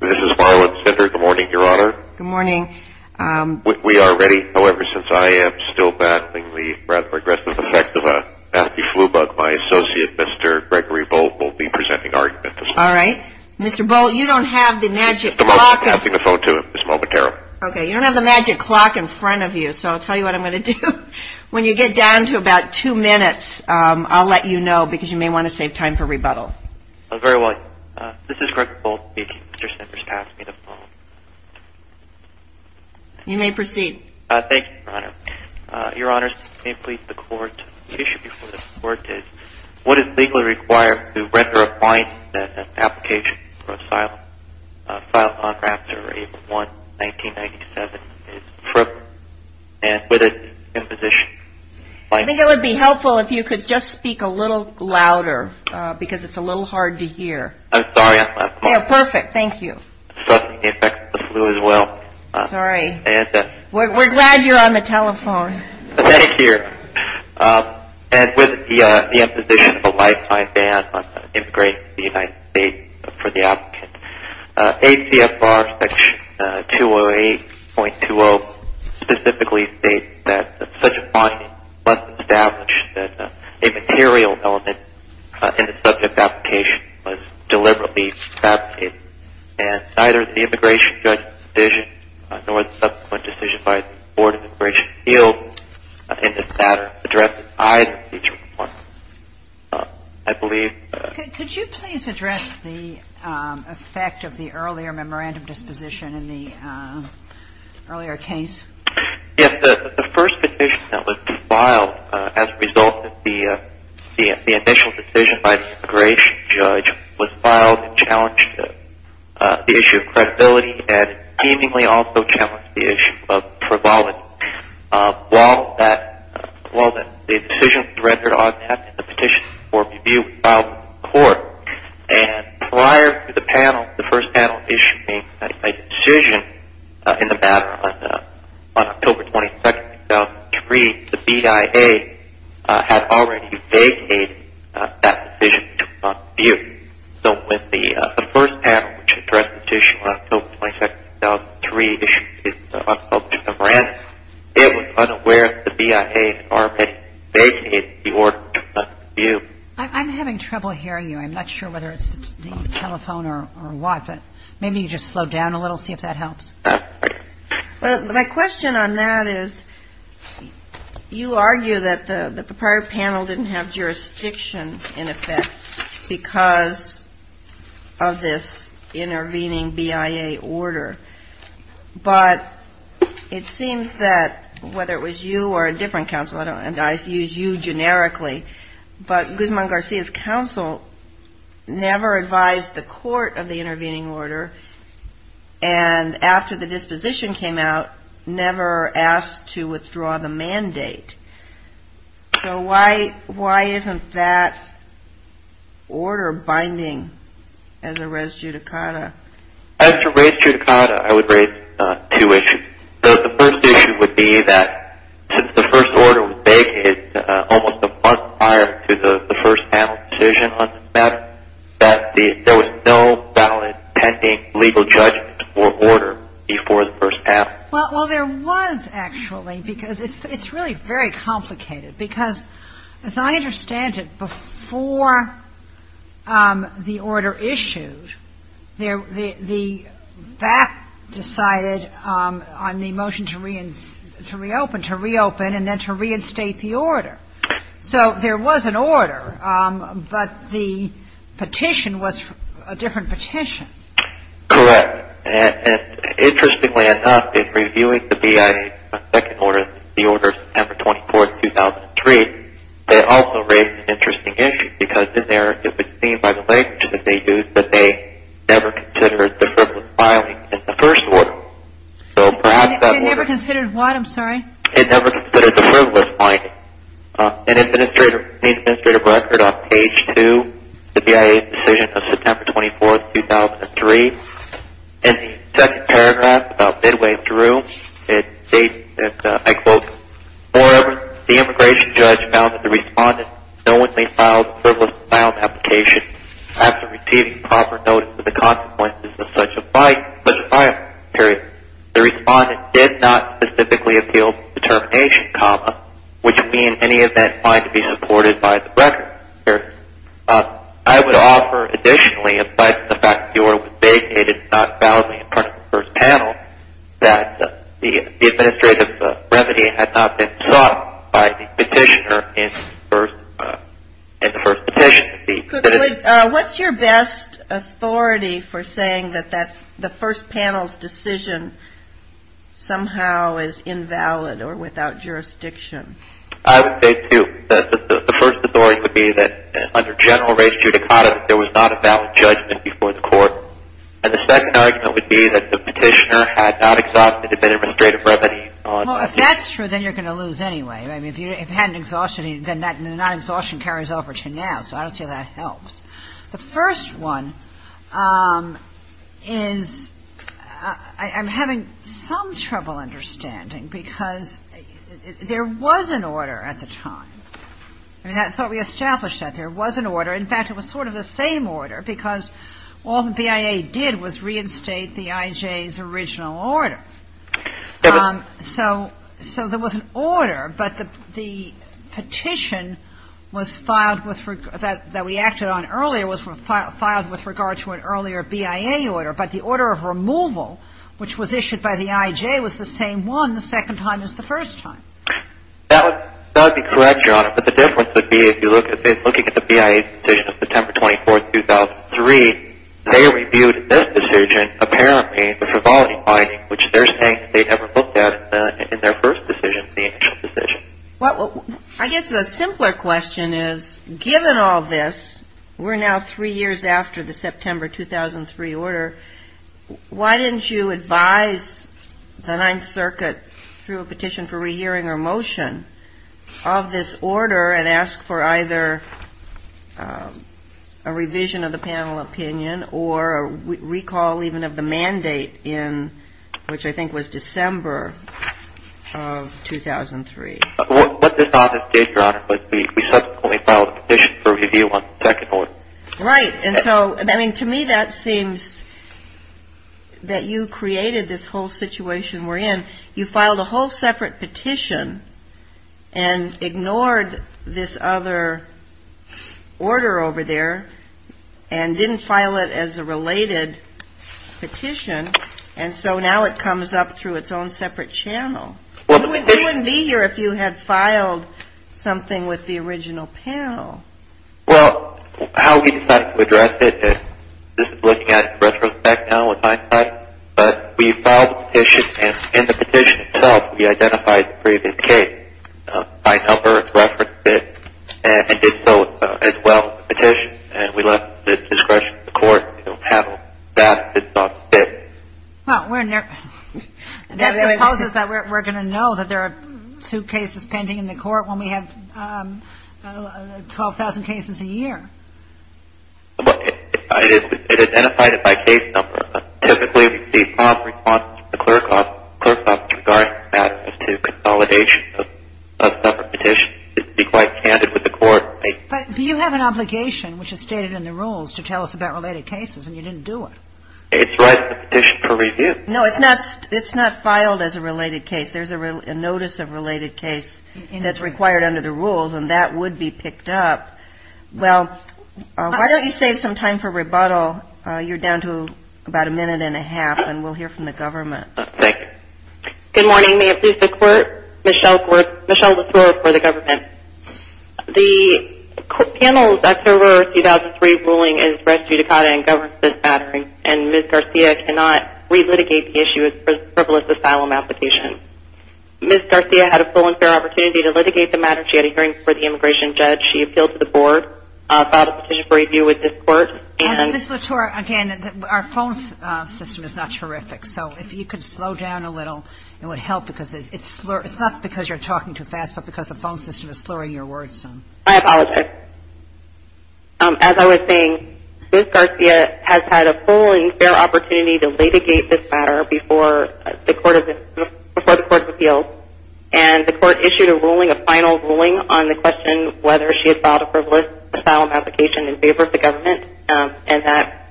This is Marlon Sender. Good morning, Your Honor. Good morning. We are ready. However, since I am still battling the progressive effect of a nasty flu bug, my associate, Mr. Gregory Bolt, will be presenting our investigation. All right. Mr. Bolt, you don't have the magic clock. I'm passing the phone to you, Ms. Momotaro. Okay, you don't have the magic clock in front of you, so I'll tell you what I'm going to do. When you get down to about two minutes, I'll let you know because you may want to save time for rebuttal. Very well. This is Gregory Bolt speaking. Mr. Sender is passing me the phone. You may proceed. Thank you, Your Honor. Your Honors, may it please the Court, the issue before the Court is what is legally required to render a fine as an application for asylum? File contractor A1-1997 is frivolous, and with it, imposition. I think it would be helpful if you could just speak a little louder because it's a little hard to hear. I'm sorry. Perfect. Thank you. Suffering the effects of the flu as well. Sorry. We're glad you're on the telephone. Thank you. And with the imposition of a lifetime ban on immigrating to the United States for the applicant, ACFR Section 208.20 specifically states that such a finding must establish that a material element in the subject application was deliberately fabricated, and neither the immigration judge's decision nor the subsequent decision by the Board of Immigration field in this matter addresses either of these requirements. I believe. Could you please address the effect of the earlier memorandum disposition in the earlier case? Yes. The first petition that was filed as a result of the initial decision by the immigration judge was filed and challenged the issue of credibility and seemingly also challenged the issue of frivolity. While the decision was rendered untapped in the petition before review, it was filed in court. And prior to the panel, the first panel issuing a decision in the matter on October 22nd, 2003, the BIA had already vacated that decision to review. So when the first panel, which addressed the petition on October 22nd, 2003, issued its unspoken memorandum, it was unaware that the BIA had already vacated the order to review. I'm having trouble hearing you. I'm not sure whether it's the telephone or what, but maybe you just slow down a little, see if that helps. My question on that is you argue that the prior panel didn't have jurisdiction in effect because of this intervening BIA order. But it seems that whether it was you or a different counsel, and I use you generically, but Guzman-Garcia's counsel never advised the court of the intervening order and after the disposition came out never asked to withdraw the mandate. So why isn't that order binding as a res judicata? As a res judicata, I would raise two issues. The first issue would be that since the first order was vacated almost a month prior to the first panel's decision on this matter, that there was no valid pending legal judgment or order before the first panel. Well, there was, actually, because it's really very complicated. Because as I understand it, before the order issued, the BAC decided on the motion to reopen and then to reinstate the order. So there was an order, but the petition was a different petition. Correct. And interestingly enough, in reviewing the BIA's second order, the order of September 24, 2003, they also raised an interesting issue because in there it was seen by the language that they used that they never considered the frivolous filing in the first order. They never considered what, I'm sorry? They never considered the frivolous filing. An administrative record on page 2, the BIA's decision of September 24, 2003. In the second paragraph about midway through, it states that, I quote, moreover, the immigration judge found that the respondent knowingly filed frivolous filing applications after receiving proper notice of the consequences of such a filing period. The respondent did not specifically appeal to the termination comma, which would be in any event find to be supported by the record. I would offer additionally, in spite of the fact that the order was designated not validly in front of the first panel, that the administrative remedy had not been sought by the petitioner in the first petition. What's your best authority for saying that the first panel's decision somehow is invalid or without jurisdiction? I would say two. The first authority would be that under general race judicata, there was not a valid judgment before the court. And the second argument would be that the petitioner had not exhausted administrative remedy. Well, if that's true, then you're going to lose anyway. I mean, if you hadn't exhausted it, then that non-exhaustion carries over to now. So I don't see how that helps. The first one is I'm having some trouble understanding because there was an order at the time. I mean, I thought we established that there was an order. In fact, it was sort of the same order because all the BIA did was reinstate the IJ's original order. So there was an order, but the petition was filed with the – that we acted on earlier was filed with regard to an earlier BIA order. But the order of removal, which was issued by the IJ, was the same one the second time as the first time. That would be correct, Your Honor. But the difference would be if you look at the BIA's decision of September 24, 2003, they reviewed this decision apparently with revolving mind, which they're saying they never looked at in their first decision, the initial decision. Well, I guess the simpler question is, given all this, we're now three years after the September 2003 order, why didn't you advise the Ninth Circuit through a petition for rehearing or motion of this order and ask for either a revision of the panel opinion or a recall even of the mandate in which I think was December of 2003? What this office did, Your Honor, was we subsequently filed a petition for review on the second one. Right. And so, I mean, to me that seems that you created this whole situation we're in. You filed a whole separate petition and ignored this other order over there and didn't file it as a related petition, and so now it comes up through its own separate channel. You wouldn't be here if you had filed something with the original panel. Well, how we decided to address it, this is looking at it in retrospect now in hindsight, but we filed the petition and in the petition itself we identified the previous case. My helper referenced it and did so as well in the petition, and we left it at discretion of the court to handle that. It's not the case. Well, that supposes that we're going to know that there are two cases pending in the court when we have 12,000 cases a year. It identified it by case number. Typically, we see prompt responses from the clerk office regarding access to consolidation of separate petitions. It would be quite candid with the court. But you have an obligation, which is stated in the rules, to tell us about related cases, and you didn't do it. It's right in the petition for review. No, it's not. It's not filed as a related case. There's a notice of related case that's required under the rules, and that would be picked up. Well, why don't you save some time for rebuttal? You're down to about a minute and a half, and we'll hear from the government. Okay. Good morning. May it please the court. Michelle Desore for the government. The panel's October 2003 ruling is res judicata and governs this matter, and Ms. Garcia cannot relitigate the issue as a frivolous asylum application. Ms. Garcia had a full and fair opportunity to litigate the matter. She had a hearing before the immigration judge. She appealed to the board, filed a petition for review with this court, and Ms. Latour, again, our phone system is not terrific. So if you could slow down a little, it would help because it's not because you're talking too fast, but because the phone system is slurring your words. I apologize. As I was saying, Ms. Garcia has had a full and fair opportunity to litigate this matter before the court of appeals, and the court issued a ruling, a final ruling on the question whether she had filed a frivolous asylum application in favor of the government, and that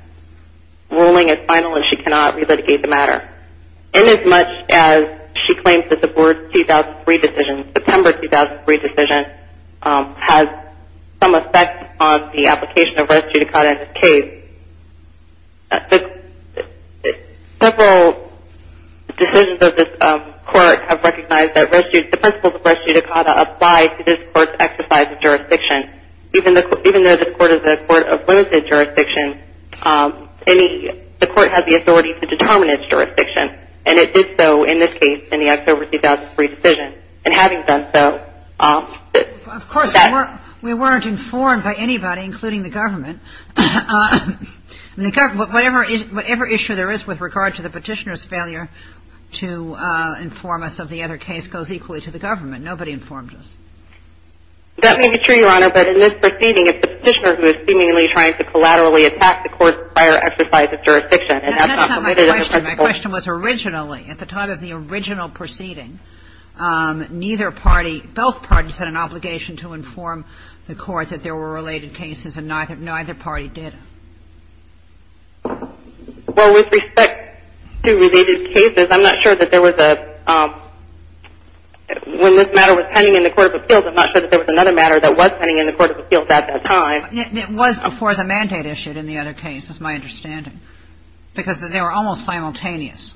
ruling is final, and she cannot relitigate the matter. And as much as she claims that the board's 2003 decision, September 2003 decision, has some effect on the application of res judicata in this case, several decisions of this court have recognized that the principles of res judicata apply to this court's exercise of jurisdiction. Even though this court is a court of limited jurisdiction, the court has the authority to determine its jurisdiction, and it did so in this case in the October 2003 decision. And having done so, that's... Of course, we weren't informed by anybody, including the government. Whatever issue there is with regard to the petitioner's failure to inform us of the other case goes equally to the government. Nobody informed us. That may be true, Your Honor, but in this proceeding, it's the petitioner who is seemingly trying to collaterally attack the court's prior exercise of jurisdiction. That's not my question. My question was originally, at the time of the original proceeding, neither party, both parties had an obligation to inform the court that there were related cases, and neither party did. Well, with respect to related cases, I'm not sure that there was a... When this matter was pending in the court of appeals, I'm not sure that there was another matter that was pending in the court of appeals at that time. It was before the mandate issued in the other case, is my understanding. Because they were almost simultaneous.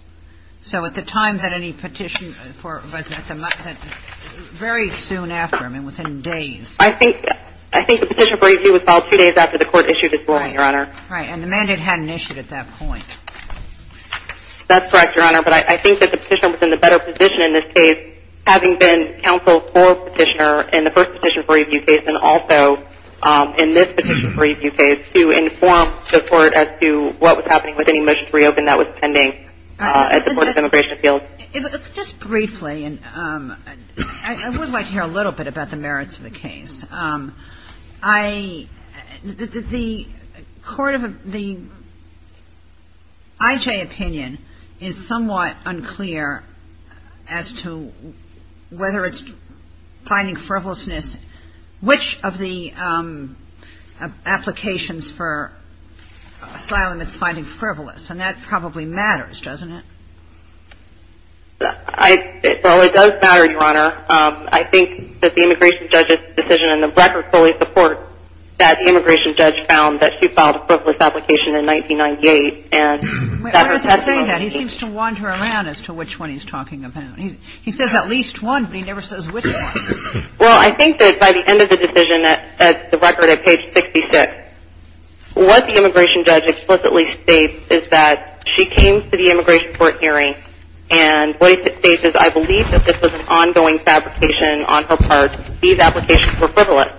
So at the time that any petition for... Very soon after, I mean, within days. I think the petition for review was filed two days after the court issued its ruling, Your Honor. Right. And the mandate hadn't issued at that point. That's correct, Your Honor. But I think that the petitioner was in a better position in this case, having been counsel for the petitioner in the first petition for review case, and also in this petition for review case, to inform the court as to what was happening with any motions to reopen that was pending at the court of immigration appeals. Just briefly, I would like to hear a little bit about the merits of the case. The court of the I.J. opinion is somewhat unclear as to whether it's finding frivolousness, which of the applications for asylum it's finding frivolous. And that probably matters, doesn't it? Well, it does matter, Your Honor. I think that the immigration judge's decision in the record fully supports that the immigration judge found that she filed a frivolous application in 1998. And that her testimony... Wait, what does he say then? He seems to wander around as to which one he's talking about. He says at least one, but he never says which one. Well, I think that by the end of the decision at the record at page 66, what the immigration judge explicitly states is that she came to the immigration court hearing, and what he states is, I believe that this was an ongoing fabrication on her part. These applications were frivolous.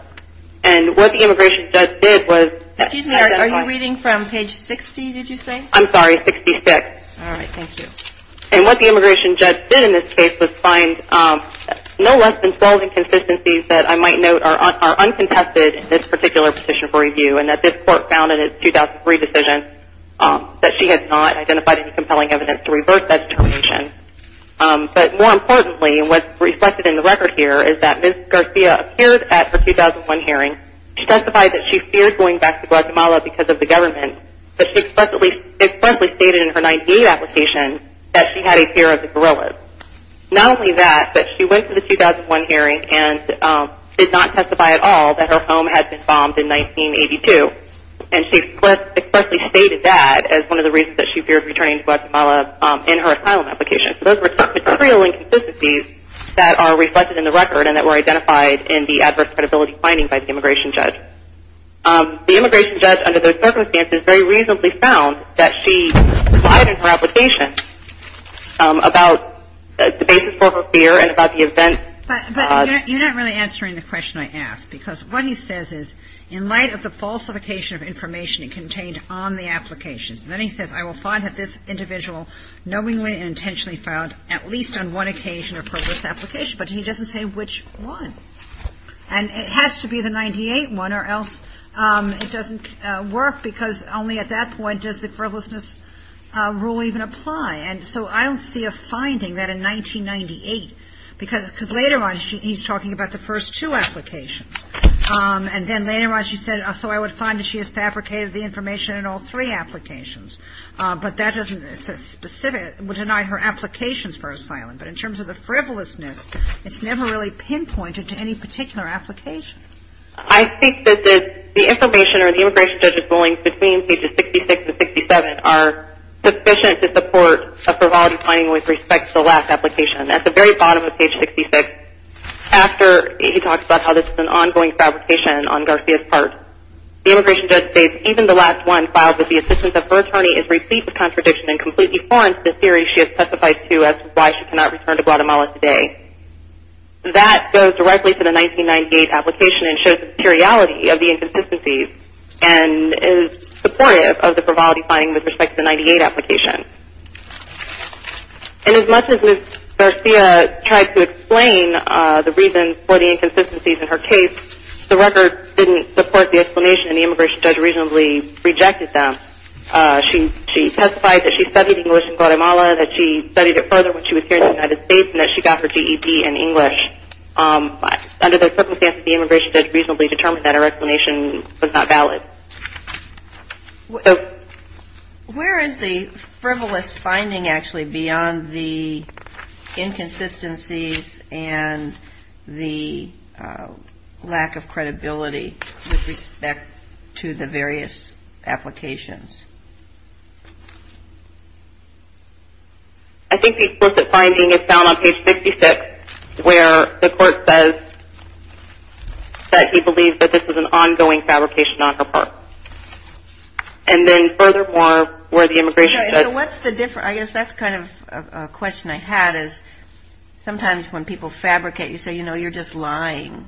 And what the immigration judge did was... Excuse me, are you reading from page 60, did you say? I'm sorry, 66. All right, thank you. And what the immigration judge did in this case was find no less than 12 inconsistencies that I might note are uncontested in this particular petition for review, and that this court found in its 2003 decision that she had not identified any compelling evidence to revert that determination. But more importantly, what's reflected in the record here is that Ms. Garcia appeared at her 2001 hearing. She testified that she feared going back to Guatemala because of the government, but she explicitly stated in her 1998 application that she had a fear of the guerrillas. Not only that, but she went to the 2001 hearing and did not testify at all that her home had been bombed in 1982, and she explicitly stated that as one of the reasons that she feared returning to Guatemala in her asylum application. So those are material inconsistencies that are reflected in the record and that were identified in the adverse credibility finding by the immigration judge. But the immigration judge, under those circumstances, very reasonably found that she lied in her application about the basis for her fear and about the event. But you're not really answering the question I asked, because what he says is in light of the falsification of information contained on the application, and then he says, I will find that this individual knowingly and intentionally filed at least on one occasion or purpose the application, but he doesn't say which one. And it has to be the 1998 one or else it doesn't work, because only at that point does the frivolousness rule even apply. And so I don't see a finding that in 1998, because later on he's talking about the first two applications. And then later on she said, so I would find that she has fabricated the information in all three applications, but that doesn't specifically deny her applications for asylum. But in terms of the frivolousness, it's never really pinpointed to any particular application. I think that the information or the immigration judge's rulings between pages 66 and 67 are sufficient to support a frivolity finding with respect to the last application. At the very bottom of page 66, after he talks about how this is an ongoing fabrication on Garcia's part, the immigration judge states, even the last one filed with the assistance of her attorney is replete with contradiction and completely foreign to the theory she has testified to as to why she cannot return to Guatemala today. That goes directly to the 1998 application and shows the materiality of the inconsistencies and is supportive of the frivolity finding with respect to the 1998 application. And as much as Ms. Garcia tried to explain the reasons for the inconsistencies in her case, the record didn't support the explanation and the immigration judge reasonably rejected them. She testified that she studied English in Guatemala, that she studied it further when she was here in the United States, and that she got her GEP in English. Under those circumstances, the immigration judge reasonably determined that her explanation was not valid. So where is the frivolous finding actually beyond the inconsistencies and the lack of credibility with respect to the various applications? I think the explicit finding is found on page 66, where the court says that he believes that this is an ongoing fabrication on her part. And then furthermore, where the immigration judge- So what's the difference? I guess that's kind of a question I had is sometimes when people fabricate, you say, you know, you're just lying.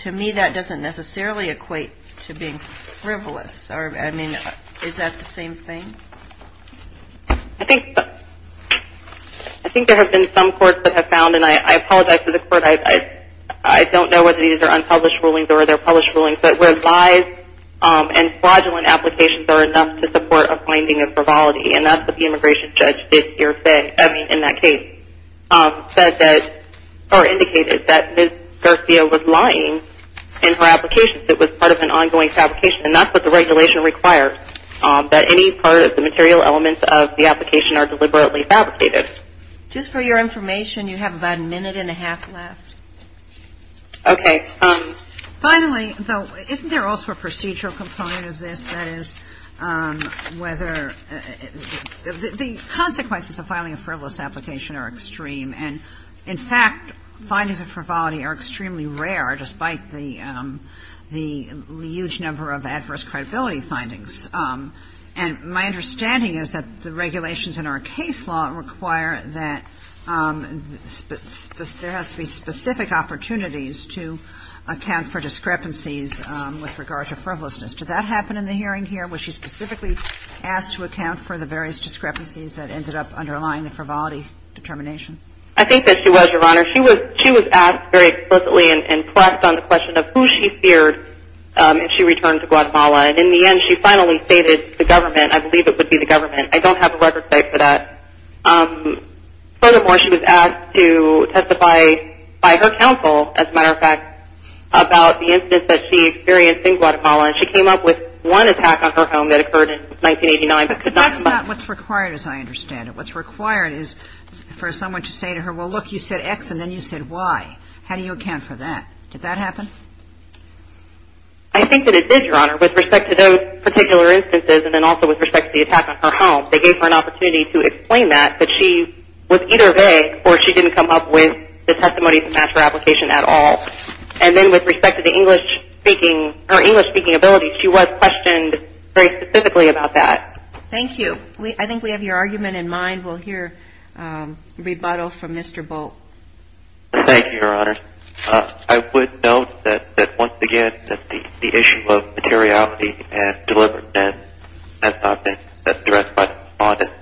To me, that doesn't necessarily equate to being frivolous. I mean, is that the same thing? I think there have been some courts that have found, and I apologize to the court, I don't know whether these are unpublished rulings or they're published rulings, but where lies and fraudulent applications are enough to support a finding of frivolity, and that's what the immigration judge did here in that case, said that-or indicated that Ms. Garcia was lying in her applications. It was part of an ongoing fabrication, and that's what the regulation requires, that any part of the material elements of the application are deliberately fabricated. Just for your information, you have about a minute and a half left. Okay. Finally, though, isn't there also a procedural component of this? That is, whether-the consequences of filing a frivolous application are extreme. And, in fact, findings of frivolity are extremely rare, despite the huge number of adverse credibility findings. And my understanding is that the regulations in our case law require that there has to be specific opportunities to account for discrepancies with regard to frivolousness. Did that happen in the hearing here? Was she specifically asked to account for the various discrepancies that ended up underlying the frivolity determination? I think that she was, Your Honor. She was asked very explicitly and pressed on the question of who she feared if she returned to Guatemala. And, in the end, she finally stated the government. I believe it would be the government. I don't have a record site for that. Furthermore, she was asked to testify by her counsel, as a matter of fact, about the incidents that she experienced in Guatemala. And she came up with one attack on her home that occurred in 1989. But that's not what's required, as I understand it. What's required is for someone to say to her, well, look, you said X and then you said Y. How do you account for that? Did that happen? I think that it did, Your Honor, with respect to those particular instances and then also with respect to the attack on her home. They gave her an opportunity to explain that, that she was either vague or she didn't come up with the testimony to match her application at all. And then with respect to the English-speaking, her English-speaking ability, she was questioned very specifically about that. Thank you. I think we have your argument in mind. We'll hear rebuttal from Mr. Bolt. Thank you, Your Honor. I would note that, once again, that the issue of materiality and deliberateness has not been addressed by the defendant.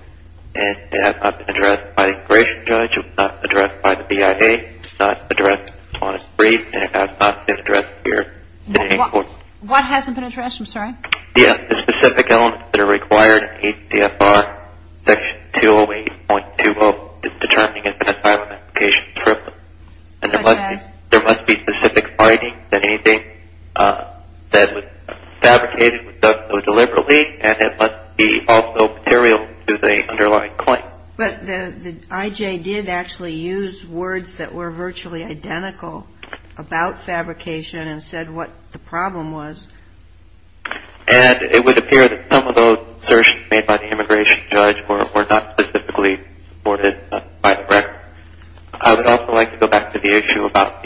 And it has not been addressed by the immigration judge. It was not addressed by the BIA. It was not addressed on a brief. And it has not been addressed here today in court. What hasn't been addressed? I'm sorry. Yes. The specific elements that are required in ACFR Section 208.20 is determining an asylum application. Such as? There must be specific findings that anything that was fabricated was done so deliberately and it must be also material to the underlying claim. But the I.J. did actually use words that were virtually identical about fabrication and said what the problem was. And it would appear that some of those assertions made by the immigration judge were not specifically supported by the record. I would also like to go back to the issue about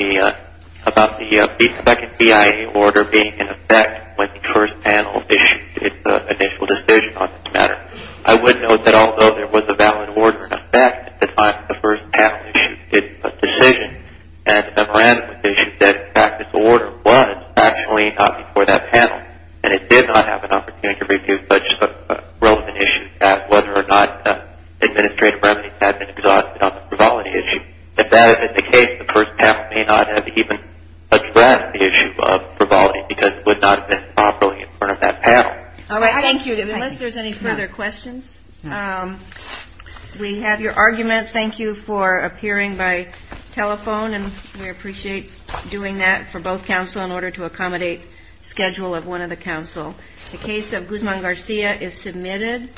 the second BIA order being in effect when the first panel issued its initial decision on this matter. I would note that although there was a valid order in effect at the time the first panel issued its decision at a random issue, that practice order was actually not before that panel. And it did not have an opportunity to review such a relevant issue as whether or not administrative remedies had been exhausted on the frivolity issue. If that had been the case, the first panel may not have even addressed the issue of frivolity because it would not have been properly in front of that panel. All right. Thank you. Unless there's any further questions. We have your argument. Thank you for appearing by telephone, and we appreciate doing that for both counsel in order to accommodate schedule of one of the counsel. The case of Guzman-Garcia is submitted.